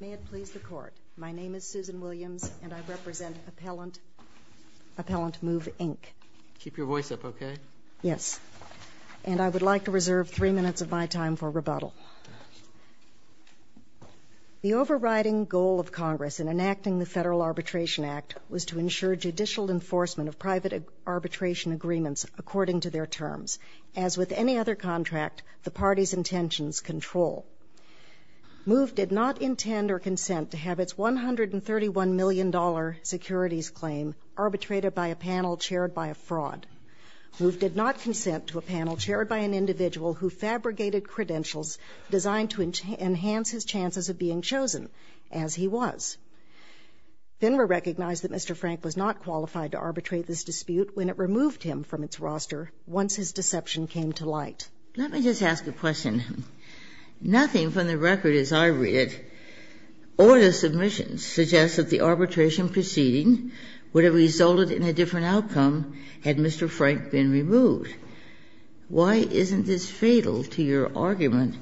May it please the Court, my name is Susan Williams and I represent Appellant Move, Inc. Keep your voice up, okay? Yes. And I would like to reserve three minutes of my time for rebuttal. The overriding goal of Congress in enacting the Federal Arbitration Act was to ensure judicial enforcement of private arbitration agreements according to their terms. As with any other contract, the party's intentions control. Move did not intend or consent to have its $131 million securities claim arbitrated by a panel chaired by a fraud. Move did not consent to a panel chaired by an individual who fabricated credentials designed to enhance his chances of being chosen, as he was. FINRA recognized that Mr. Frank was not qualified to arbitrate this dispute when it removed him from its roster once his deception came to light. Let me just ask a question. Nothing from the record, as I read it, or the submissions, suggests that the arbitration proceeding would have resulted in a different outcome had Mr. Frank been removed. Why isn't this fatal to your argument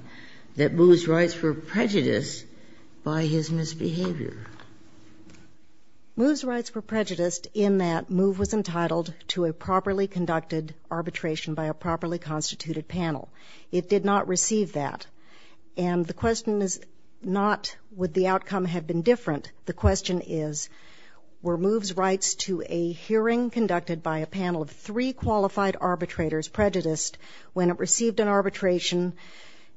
that Move's rights were prejudiced by his misbehavior? Move's rights were prejudiced in that Move was entitled to a properly conducted arbitration by a properly constituted panel. It did not receive that. And the question is not would the outcome have been different. The question is were Move's rights to a hearing conducted by a panel of three qualified arbitrators prejudiced when it received an arbitration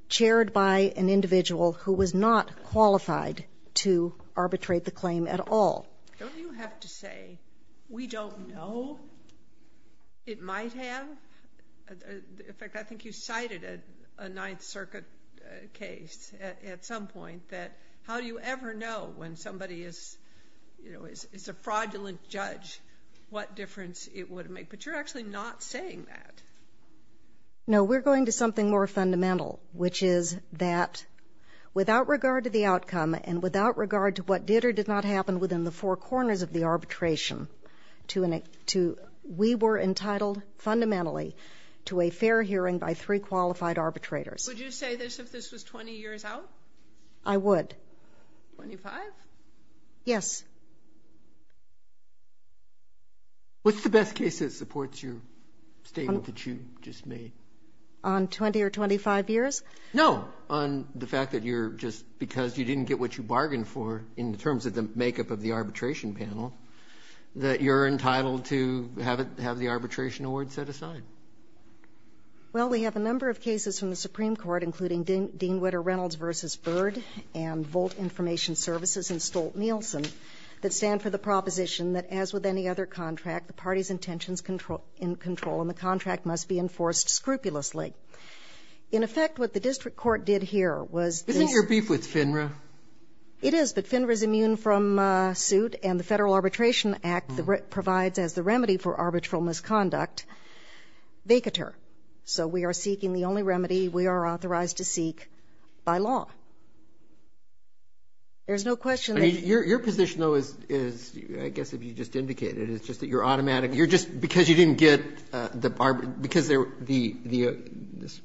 chaired by an individual who was not qualified to arbitrate the claim at all. Don't you have to say we don't know it might have? In fact, I think you cited a Ninth Circuit case at some point that how do you ever know when somebody is, you know, is a fraudulent judge what difference it would make. But you're actually not saying that. No, we're going to something more fundamental, which is that without regard to the outcome and without regard to what did or did not happen within the four corners of the arbitration, we were entitled fundamentally to a fair hearing by three qualified arbitrators. Would you say this if this was 20 years out? I would. Twenty-five? Yes. What's the best case that supports your statement that you just made? On 20 or 25 years? No, on the fact that you're just because you didn't get what you bargained for in terms of the makeup of the arbitration panel that you're entitled to have the arbitration award set aside. Well, we have a number of cases from the Supreme Court, including Dean Witter Reynolds v. Byrd and Volt Information Services and Stolt-Nielsen that stand for the proposition that as with any other contract, the party's intentions are in control and the contract must be enforced scrupulously. In effect, what the district court did here was this. Isn't your beef with FINRA? It is, but FINRA is immune from suit and the Federal Arbitration Act provides as the remedy for arbitral misconduct, vacatur. So we are seeking the only remedy we are authorized to seek by law. There's no question that you're going to get the award. Your position, though, is, I guess, as you just indicated, is just that you're automatic. You're just because you didn't get the arbitration, because there were the, the,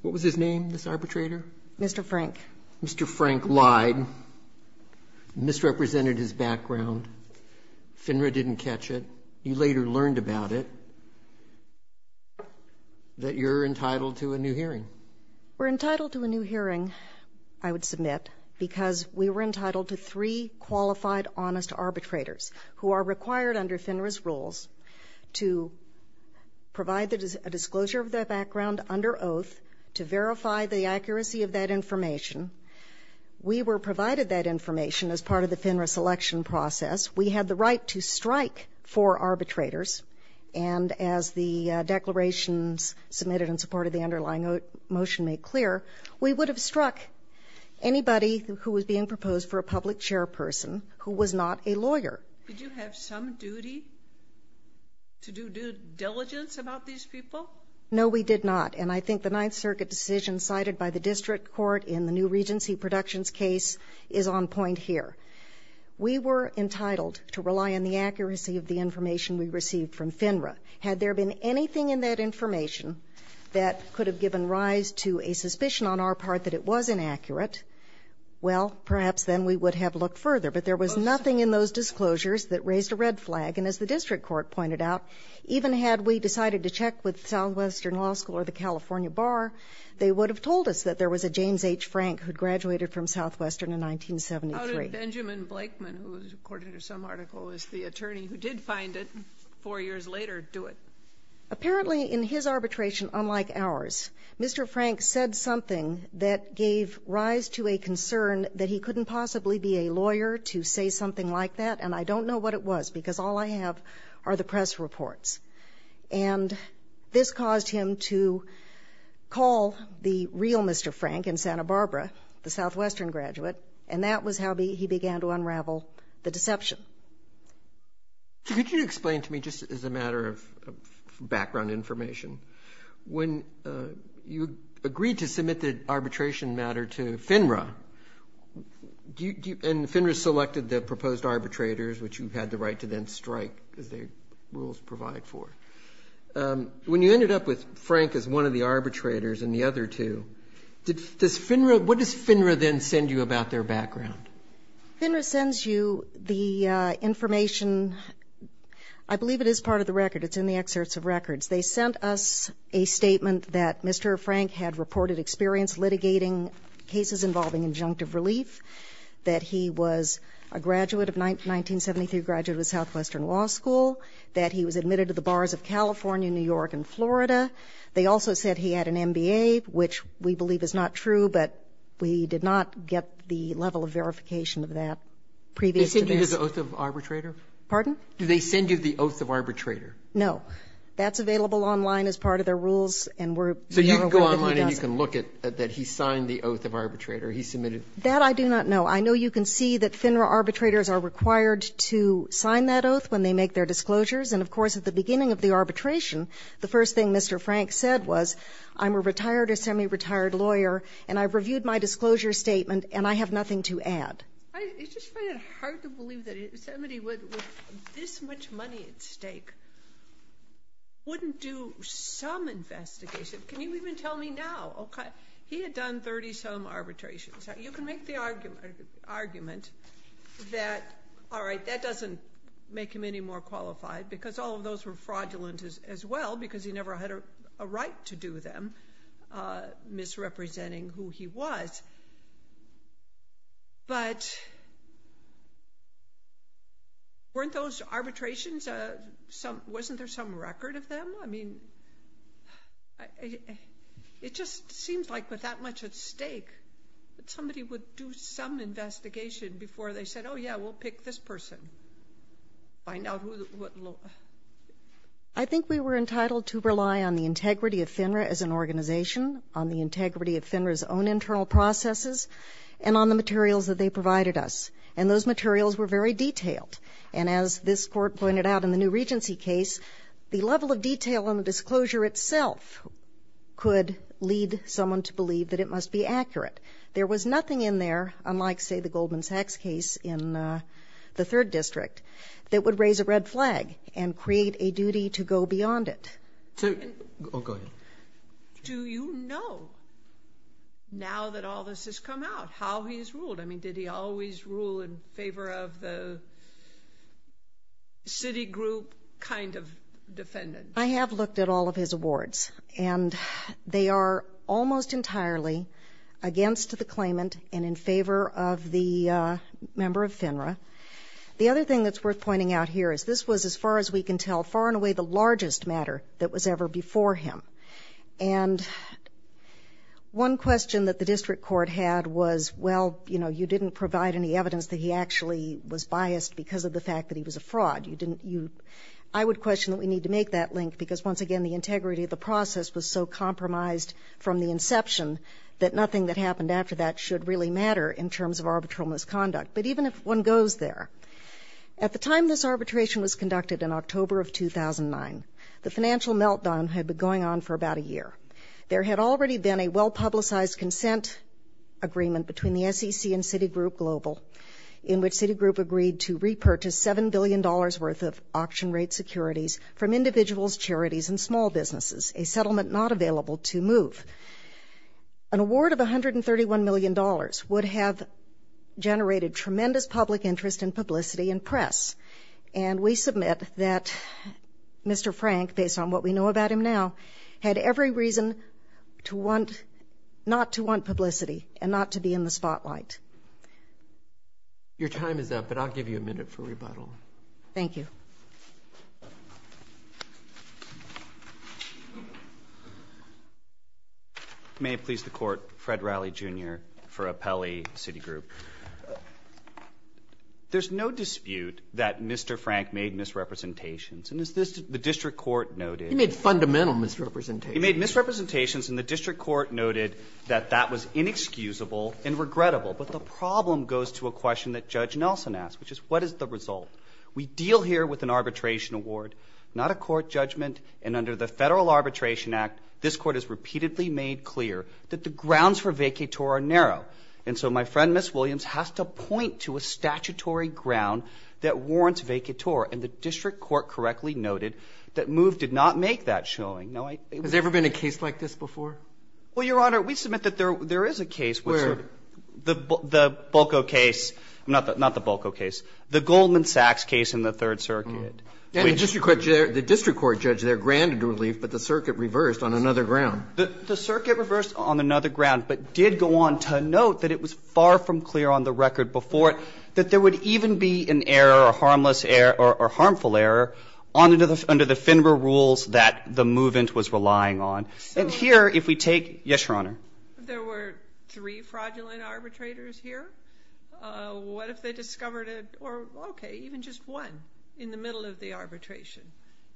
what was his name, this arbitrator? Mr. Frank. Mr. Frank lied, misrepresented his background. FINRA didn't catch it. You later learned about it, that you're entitled to a new hearing. We're entitled to a new hearing, I would submit, because we were entitled to three qualified, honest arbitrators who are required under FINRA's rules to provide a disclosure of their background under oath to verify the accuracy of that information. We were provided that information as part of the FINRA selection process. We had the right to strike four arbitrators, and as the declarations submitted in support of the underlying motion made clear, we would have struck anybody who was being proposed for a public chairperson who was not a lawyer. Did you have some duty to do due diligence about these people? No, we did not. And I think the Ninth Circuit decision cited by the district court in the new Regency Productions case is on point here. We were entitled to rely on the accuracy of the information we received from FINRA. Had there been anything in that information that could have given rise to a suspicion on our part that it was inaccurate, well, perhaps then we would have looked further. But there was nothing in those disclosures that raised a red flag. And as the district court pointed out, even had we decided to check with Southwestern Law School or the California Bar, they would have told us that there was a James H. Frank who graduated from Southwestern in 1973. How did Benjamin Blakeman, who, according to some article, was the attorney who did find it, four years later do it? Apparently, in his arbitration, unlike ours, Mr. Frank said something that gave rise to a concern that he couldn't possibly be a lawyer to say something like that. And I don't know what it was, because all I have are the press reports. And this caused him to call the real Mr. Frank in Santa Barbara, the Southwestern graduate. And that was how he began to unravel the deception. Could you explain to me, just as a matter of background information, when you agreed to submit the arbitration matter to FINRA, and FINRA selected the proposed arbitrators, which you had the right to then strike, as the rules provide for. When you ended up with Frank as one of the arbitrators and the other two, what does FINRA then send you about their background? FINRA sends you the information, I believe it is part of the record. It's in the excerpts of records. They sent us a statement that Mr. Frank had reported experience litigating cases involving injunctive relief. That he was a graduate of 1973, graduated with Southwestern Law School. That he was admitted to the bars of California, New York, and Florida. They also said he had an MBA, which we believe is not true, but we did not get the level of verification of that previous to this. They send you the oath of arbitrator? Pardon? Do they send you the oath of arbitrator? No. That's available online as part of their rules, and we're not aware that he does it. So you can go online and you can look at that he signed the oath of arbitrator. He submitted. That I do not know. I know you can see that FINRA arbitrators are required to sign that oath when they make their disclosures, and of course at the beginning of the arbitration, the first thing Mr. Frank said was, I'm a retired or semi-retired lawyer, and I've reviewed my disclosure statement, and I have nothing to add. I just find it hard to believe that somebody with this much money at stake wouldn't do some investigation, can you even tell me now, okay? He had done 30 some arbitrations. You can make the argument that, all right, that doesn't make him any more qualified, because all of those were fraudulent as well, because he never had a right to do them, misrepresenting who he was, but weren't those arbitrations, wasn't there some record of them? I mean, it just seems like with that much at stake, that somebody would do some investigation before they said, yeah, we'll pick this person. Find out who the, what law, I think we were entitled to rely on the integrity of FINRA as an organization, on the integrity of FINRA's own internal processes, and on the materials that they provided us, and those materials were very detailed. And as this court pointed out in the new Regency case, the level of detail on the disclosure itself could lead someone to believe that it must be accurate. There was nothing in there, unlike, say, the Goldman Sachs case in the third district, that would raise a red flag and create a duty to go beyond it. So, oh, go ahead. Do you know, now that all this has come out, how he's ruled? I mean, did he always rule in favor of the city group kind of defendant? I have looked at all of his awards, and they are almost entirely against the claimant and in favor of the member of FINRA. The other thing that's worth pointing out here is this was, as far as we can tell, far and away the largest matter that was ever before him. And one question that the district court had was, well, you know, you didn't provide any evidence that he actually was biased because of the fact that he was a fraud. You didn't, you, I would question that we need to make that link, because once again, the integrity of the process was so compromised from the inception that nothing that happened after that should really matter in terms of arbitral misconduct. But even if one goes there, at the time this arbitration was conducted in October of 2009, the financial meltdown had been going on for about a year. There had already been a well-publicized consent agreement between the SEC and Citigroup Global, in which Citigroup agreed to repurchase $7 billion worth of small businesses, a settlement not available to move. An award of $131 million would have generated tremendous public interest in publicity and press. And we submit that Mr. Frank, based on what we know about him now, had every reason not to want publicity and not to be in the spotlight. Your time is up, but I'll give you a minute for rebuttal. Thank you. May it please the court, Fred Riley, Jr., for Appelli, Citigroup. There's no dispute that Mr. Frank made misrepresentations. And as the district court noted- He made fundamental misrepresentations. He made misrepresentations, and the district court noted that that was inexcusable and regrettable. But the problem goes to a question that Judge Nelson asked, which is, what is the result? We deal here with an arbitration award, not a court judgment. And under the Federal Arbitration Act, this court has repeatedly made clear that the grounds for vacatur are narrow. And so my friend, Ms. Williams, has to point to a statutory ground that warrants vacatur. And the district court correctly noted that MOVE did not make that showing. Now, I- Has there ever been a case like this before? Well, Your Honor, we submit that there is a case- Where? The Boco case, not the Boco case, the Goldman Sachs case in the Third Circuit. And the district court judge there granted relief, but the circuit reversed on another ground. The circuit reversed on another ground, but did go on to note that it was far from clear on the record before it that there would even be an error, a harmless error, or harmful error under the FINRA rules that the move-in was relying on. And here, if we take- Yes, Your Honor. If there were three fraudulent arbitrators here, what if they discovered a- or, okay, even just one in the middle of the arbitration?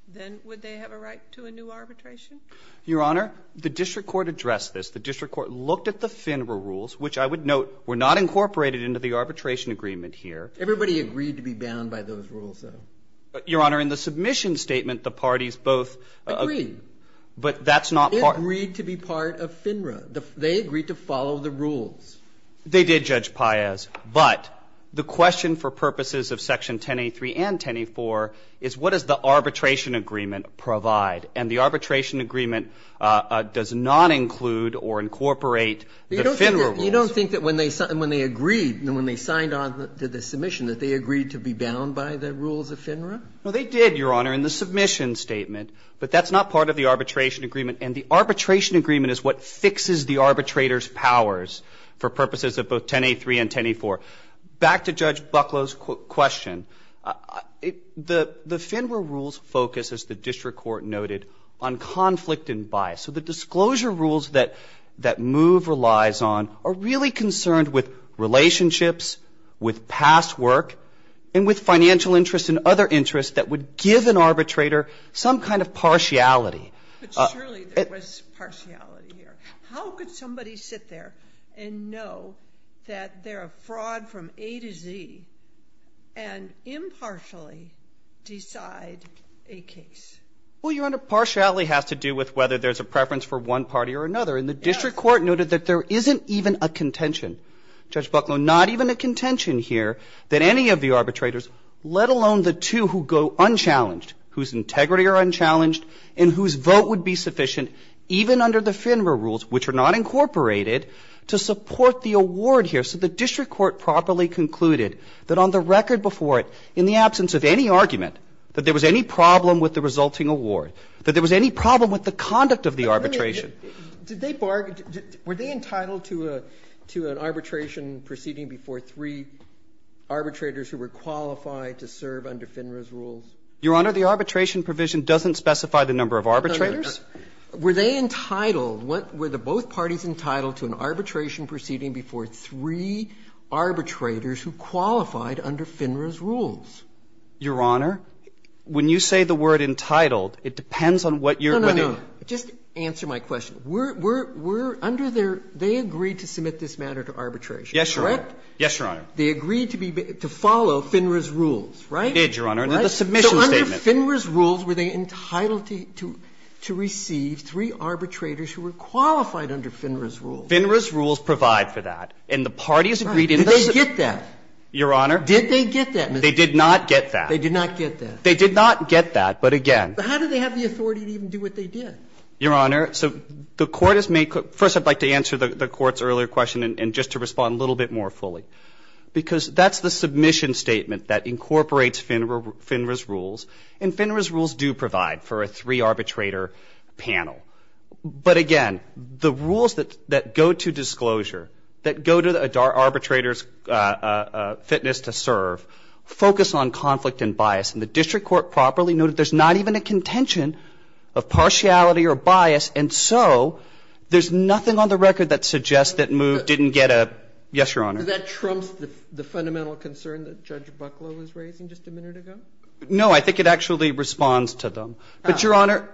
Then would they have a right to a new arbitration? Your Honor, the district court addressed this. The district court looked at the FINRA rules, which I would note were not incorporated into the arbitration agreement here. Everybody agreed to be bound by those rules, though. Your Honor, in the submission statement, the parties both- Agreed. But that's not part- They agreed to follow the rules. They did, Judge Paiz. But the question for purposes of Section 1083 and 1084 is what does the arbitration agreement provide? And the arbitration agreement does not include or incorporate the FINRA rules. You don't think that when they agreed, when they signed on to the submission, that they agreed to be bound by the rules of FINRA? No, they did, Your Honor, in the submission statement. But that's not part of the arbitration agreement. And the arbitration agreement is what fixes the arbitrator's powers for purposes of both 1083 and 1084. Back to Judge Bucklow's question, the FINRA rules focus, as the district court noted, on conflict and bias. So the disclosure rules that MOVE relies on are really concerned with relationships, with past work, and with financial interests and other interests that would give an arbitrator some kind of partiality. But surely there was partiality here. How could somebody sit there and know that they're a fraud from A to Z and impartially decide a case? Well, Your Honor, partiality has to do with whether there's a preference for one party or another. And the district court noted that there isn't even a contention, Judge Bucklow, not even a contention here that any of the arbitrators, let alone the two who go unchallenged, whose integrity are unchallenged and whose vote would be sufficient, even under the FINRA rules, which are not incorporated, to support the award here. So the district court properly concluded that on the record before it, in the absence of any argument, that there was any problem with the resulting award, that there was any problem with the conduct of the arbitration. Robertson, were they entitled to an arbitration proceeding before three arbitrators who were qualified to serve under FINRA's rules? Your Honor, the arbitration provision doesn't specify the number of arbitrators. Were they entitled, were the both parties entitled to an arbitration proceeding before three arbitrators who qualified under FINRA's rules? Your Honor, when you say the word entitled, it depends on what you're going to do. No, no, no. Just answer my question. We're under their they agreed to submit this matter to arbitration, correct? Yes, Your Honor. They agreed to be, to follow FINRA's rules, right? They did, Your Honor. And the submission statement. So under FINRA's rules, were they entitled to receive three arbitrators who were qualified under FINRA's rules? FINRA's rules provide for that. And the parties agreed in this. Did they get that? Your Honor. Did they get that? They did not get that. They did not get that. They did not get that, but again. But how do they have the authority to even do what they did? Your Honor, so the Court has made, first I'd like to answer the Court's earlier question, and just to respond a little bit more fully. Because that's the submission statement that incorporates FINRA's rules. And FINRA's rules do provide for a three arbitrator panel. But again, the rules that go to disclosure, that go to the arbitrator's fitness to serve, focus on conflict and bias. And the district court properly noted there's not even a contention of partiality or bias, and so there's nothing on the record that suggests that MOVE didn't get a, yes, Your Honor. Does that trump the fundamental concern that Judge Bucklow was raising just a minute ago? No, I think it actually responds to them. But, Your Honor,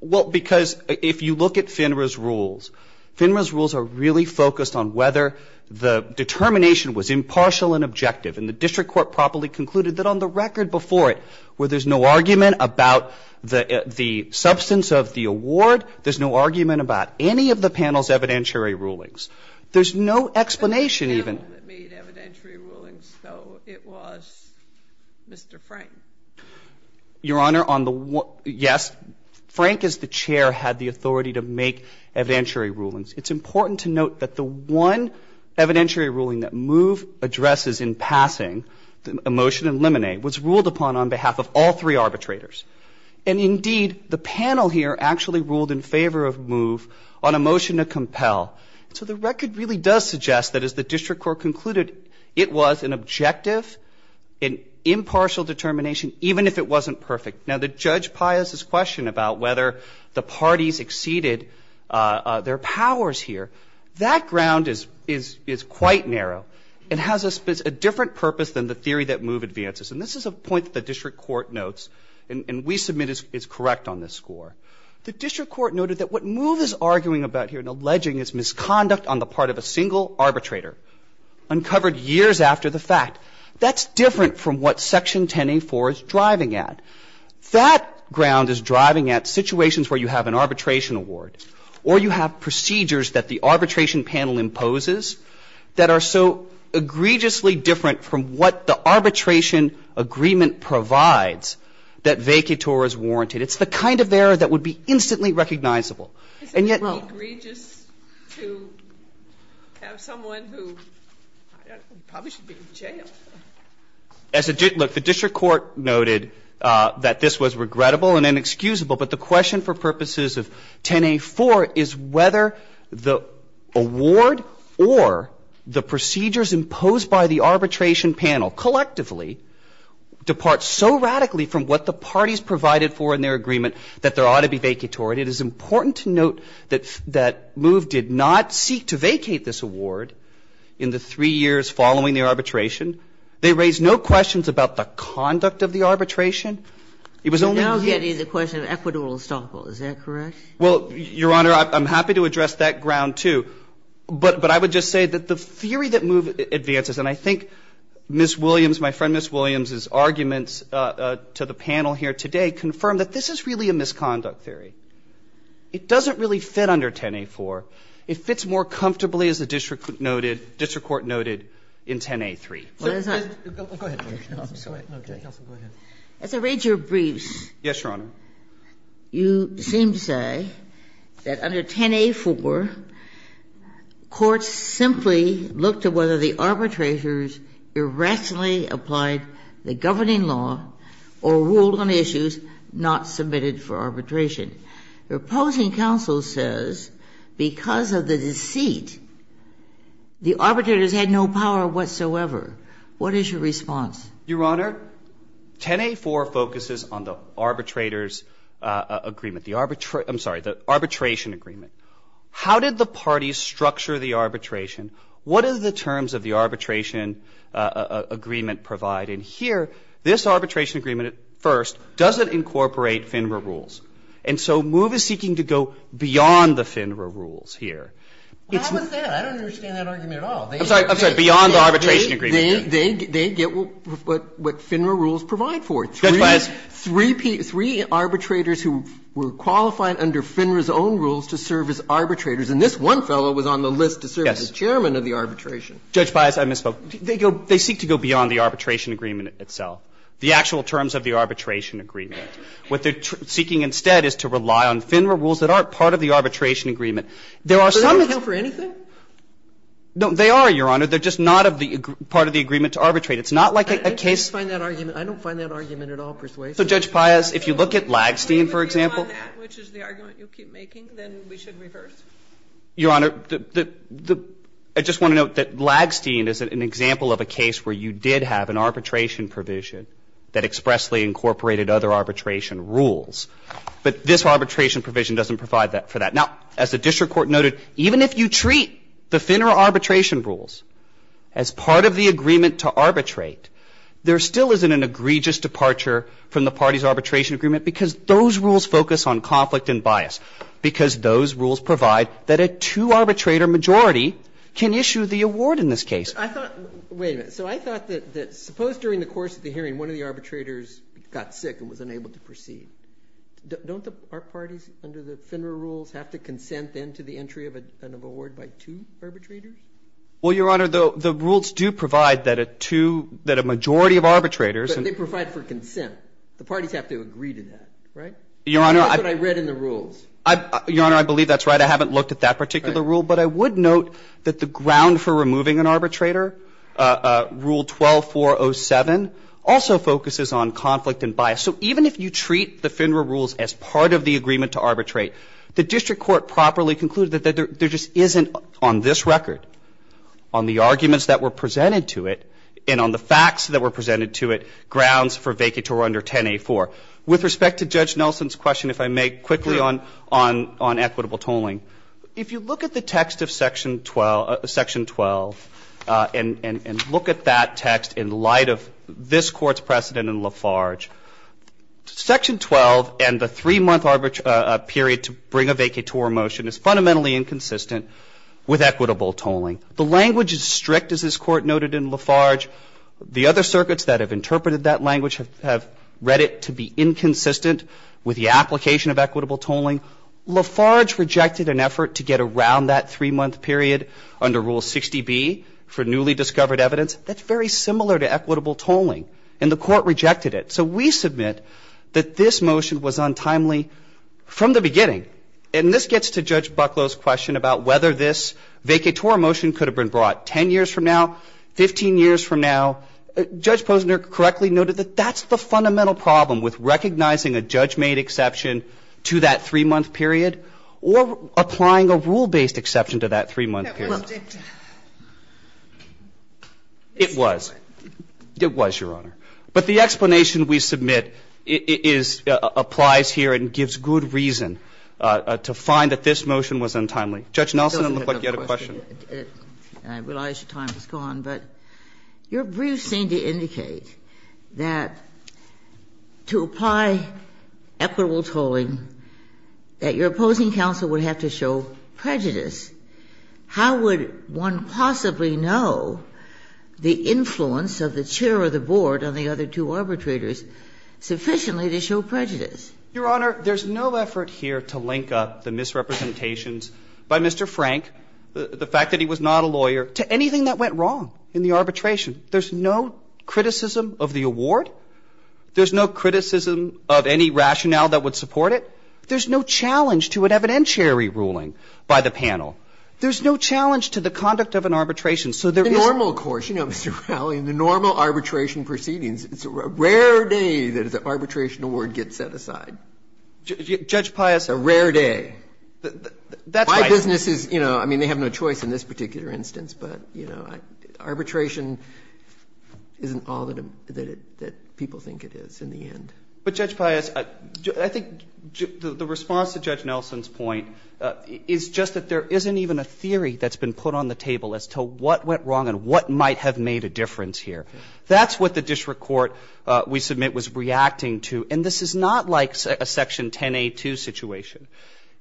well, because if you look at FINRA's rules, FINRA's rules are really focused on whether the determination was impartial and objective. And the district court properly concluded that on the record before it, where there's no argument about the substance of the award, there's no argument about any of the panel's evidentiary rulings. There's no explanation even. The panel that made evidentiary rulings, though, it was Mr. Frank. Your Honor, on the one ‑‑ yes, Frank as the chair had the authority to make evidentiary rulings. It's important to note that the one evidentiary ruling that MOVE addresses in passing, a motion to eliminate, was ruled upon on behalf of all three arbitrators. And indeed, the panel here actually ruled in favor of MOVE on a motion to compel. So the record really does suggest that as the district court concluded, it was an objective, an impartial determination, even if it wasn't perfect. Now, the Judge Pius's question about whether the parties exceeded their powers here, that ground is quite narrow and has a different purpose than the theory that MOVE advances. And this is a point that the district court notes, and we submit is correct on this score. The district court noted that what MOVE is arguing about here and alleging is conduct on the part of a single arbitrator, uncovered years after the fact. That's different from what Section 10A4 is driving at. That ground is driving at situations where you have an arbitration award or you have procedures that the arbitration panel imposes that are so egregiously different from what the arbitration agreement provides that vacatur is warranted. It's the kind of error that would be instantly recognizable. And yet- Isn't it egregious to have someone who probably should be in jail? Look, the district court noted that this was regrettable and inexcusable. But the question for purposes of 10A4 is whether the award or the procedures imposed by the arbitration panel collectively depart so radically from what the parties provided for in their agreement that there ought to be vacatur. And it is important to note that MOVE did not seek to vacate this award in the three years following the arbitration. They raised no questions about the conduct of the arbitration. It was only- You're now getting the question of equidural estoppel. Is that correct? Well, Your Honor, I'm happy to address that ground, too. But I would just say that the theory that MOVE advances, and I think Ms. Williams, my friend Ms. Williams' arguments to the panel here today, confirm that this is really a misconduct theory. It doesn't really fit under 10A4. It fits more comfortably, as the district noted, district court noted, in 10A3. Go ahead, Justice Kagan. Justice Kagan, go ahead. As I read your briefs, you seem to say that under 10A4, courts simply looked at whether the arbitrators irrationally applied the governing law or ruled on issues not submitted for arbitration. Your opposing counsel says because of the deceit, the arbitrators had no power whatsoever. What is your response? Your Honor, 10A4 focuses on the arbitrator's agreement, the arbitration agreement. How did the parties structure the arbitration? What do the terms of the arbitration agreement provide? And here, this arbitration agreement at first doesn't incorporate FINRA rules. And so MOVE is seeking to go beyond the FINRA rules here. It's not that. I don't understand that argument at all. I'm sorry. Beyond the arbitration agreement. They get what FINRA rules provide for. Judge Bias. Three arbitrators who were qualified under FINRA's own rules to serve as arbitrators, and this one fellow was on the list to serve as chairman of the arbitration. Judge Bias, I misspoke. They go, they seek to go beyond the arbitration agreement itself. The actual terms of the arbitration agreement. What they're seeking instead is to rely on FINRA rules that aren't part of the arbitration agreement. There are some. So they don't account for anything? No, they are, Your Honor. They're just not of the part of the agreement to arbitrate. It's not like a case. I can't find that argument. I don't find that argument at all persuasive. So, Judge Bias, if you look at Lagstein, for example. If you find that, which is the argument you keep making, then we should reverse? Your Honor, I just want to note that Lagstein is an example of a case where you did have an arbitration provision that expressly incorporated other arbitration rules. But this arbitration provision doesn't provide for that. Now, as the district court noted, even if you treat the FINRA arbitration rules as part of the agreement to arbitrate, there still isn't an egregious departure from the party's arbitration agreement because those rules focus on conflict and bias. Because those rules provide that a two-arbitrator majority can issue the award in this case. I thought – wait a minute. So I thought that suppose during the course of the hearing one of the arbitrators got sick and was unable to proceed. Don't our parties under the FINRA rules have to consent then to the entry of an award by two arbitrators? Well, Your Honor, the rules do provide that a two – that a majority of arbitrators and – But they provide for consent. The parties have to agree to that, right? Your Honor, I – Your Honor, I believe that's right. I haven't looked at that particular rule. But I would note that the ground for removing an arbitrator, Rule 12407, also focuses on conflict and bias. So even if you treat the FINRA rules as part of the agreement to arbitrate, the district court properly concluded that there just isn't on this record, on the arguments that were presented to it, and on the facts that were presented to it, grounds for vacatur under 10A4. With respect to Judge Nelson's question, if I may quickly on equitable tolling, if you look at the text of Section 12 and look at that text in light of this Court's precedent in Lafarge, Section 12 and the 3-month period to bring a vacatur motion is fundamentally inconsistent with equitable tolling. The language is strict, as this Court noted in Lafarge. The other circuits that have interpreted that language have read it to be inconsistent with the application of equitable tolling. Lafarge rejected an effort to get around that 3-month period under Rule 60B for newly discovered evidence. That's very similar to equitable tolling. And the Court rejected it. So we submit that this motion was untimely from the beginning. And this gets to Judge Bucklow's question about whether this vacatur motion could have been brought 10 years from now, 15 years from now. Judge Posner correctly noted that that's the fundamental problem with recognizing a judge-made exception to that 3-month period or applying a rule-based exception to that 3-month period. It was. It was, Your Honor. But the explanation we submit is ñ applies here and gives good reason to find that this motion was untimely. Judge Nelson, it looks like you had a question. I realize your time is gone, but your briefs seem to indicate that to apply equitable tolling that your opposing counsel would have to show prejudice. How would one possibly know the influence of the chair of the board and the other two arbitrators sufficiently to show prejudice? Your Honor, there's no effort here to link up the misrepresentations by Mr. Frank, the fact that he was not a lawyer, to anything that went wrong in the arbitration. There's no criticism of the award. There's no criticism of any rationale that would support it. There's no challenge to an evidentiary ruling by the panel. There's no challenge to the conduct of an arbitration. So there isó The normal course, you know, Mr. Rowley, in the normal arbitration proceedings, it's a rare day that an arbitration award gets set aside. Judge Piusó A rare day. My business is, you know, I mean, they have no choice in this particular instance, but, you know, arbitration isn't all that people think it is in the end. But, Judge Pius, I think the response to Judge Nelson's point is just that there isn't even a theory that's been put on the table as to what went wrong and what might have made a difference here. That's what the district court, we submit, was reacting to. And this is not like a Section 10a2 situation.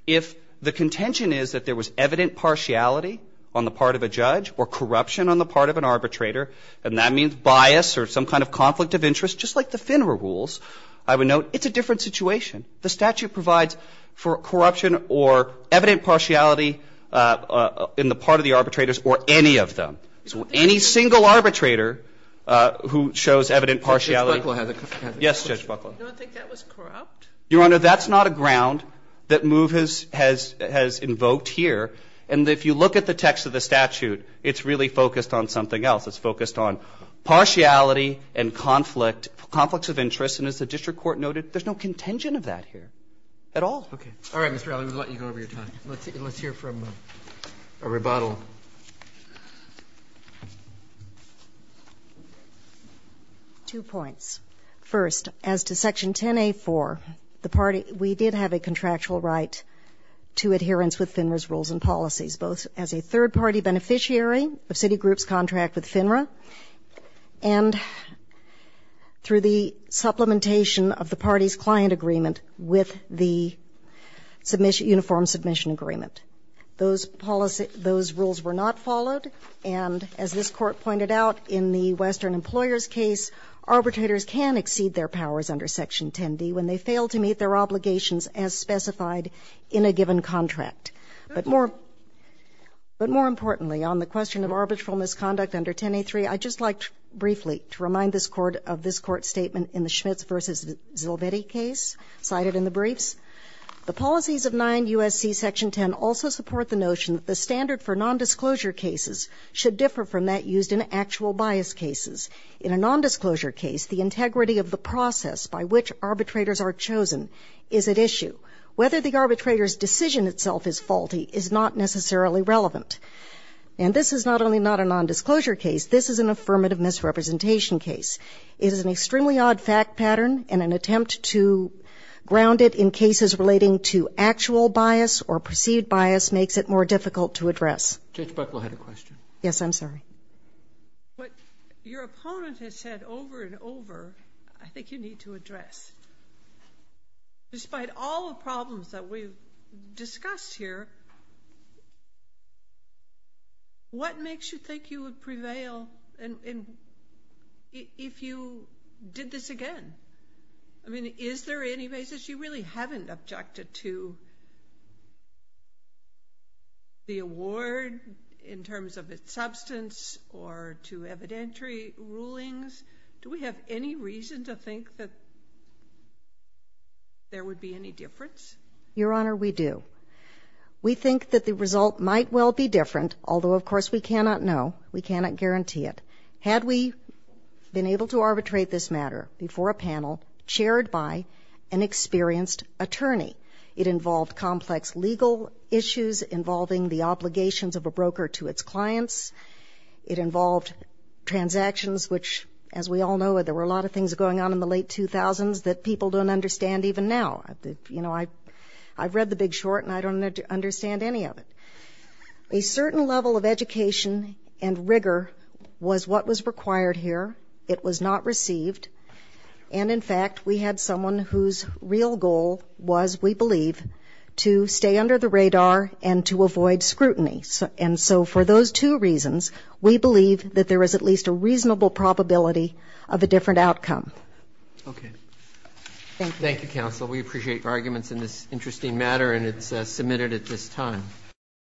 If the contention is that there was evident partiality on the part of a judge or corruption on the part of an arbitrator, and that means bias or some kind of conflict of interest, just like the FINRA rules, I would note it's a different situation. The statute provides for corruption or evident partiality in the part of the arbitrators or any of them. So any single arbitrator who shows evident partialityó But Judge Buckla has aó Yes, Judge Buckla. Do you not think that was corrupt? Your Honor, that's not a ground that MOVE has invoked here. And if you look at the text of the statute, it's really focused on something else. It's focused on partiality and conflict, conflicts of interest. And as the district court noted, there's no contention of that here at all. Okay. All right, Mr. Allen, we'll let you go over your time. Let's hear from a rebuttal. Two points. First, as to Section 10a.4, the partyówe did have a contractual right to adherence with FINRA's rules and policies, both as a third-party beneficiary of Citigroup's contract with FINRA and through the supplementation of the party's client agreement with the submissionóuniform submission agreement. Those policyóthose rules were not followed. And as this Court pointed out, in the Western Employers case, arbitrators can exceed their powers under Section 10d when they fail to meet their obligations as specified in a given contract. But moreóbut more importantly, on the question of arbitral misconduct under 10a.3, I'd just like briefly to remind this Court of this Court's statement in the Schmitz v. Zilvedi case cited in the briefs. The policies of 9 U.S.C. Section 10 also support the notion that the standard for nondisclosure cases should differ from that used in actual bias cases. In a nondisclosure case, the integrity of the process by which arbitrators are chosen is at issue. Whether the arbitrator's decision itself is faulty is not necessarily relevant. And this is not only not a nondisclosure case. This is an affirmative misrepresentation case. It is an extremely odd fact pattern, and an attempt to ground it in cases relating to actual bias or perceived bias makes it more difficult to address. Judge Buckle had a question. Yes, I'm sorry. What your opponent has said over and over, I think you need to address. Despite all the problems that we've discussed here, what makes you think you would prevail if you did this again? I mean, is there any basis you really haven't objected to the award in terms of its substance or to evidentiary rulings? Do we have any reason to think that there would be any difference? Your Honor, we do. We think that the result might well be different, although, of course, we cannot know. We cannot guarantee it. Had we been able to arbitrate this matter before a panel chaired by an experienced attorney, it involved complex legal issues involving the obligations of a broker to its clients, it involved transactions which, as we all know, there were a lot of things going on in the late 2000s that people don't understand even now. You know, I've read the big short, and I don't understand any of it. A certain level of education and rigor was what was required here. It was not received. And, in fact, we had someone whose real goal was, we believe, to stay under the radar and to avoid scrutiny. And so for those two reasons, we believe that there is at least a reasonable probability of a different outcome. Okay. Thank you.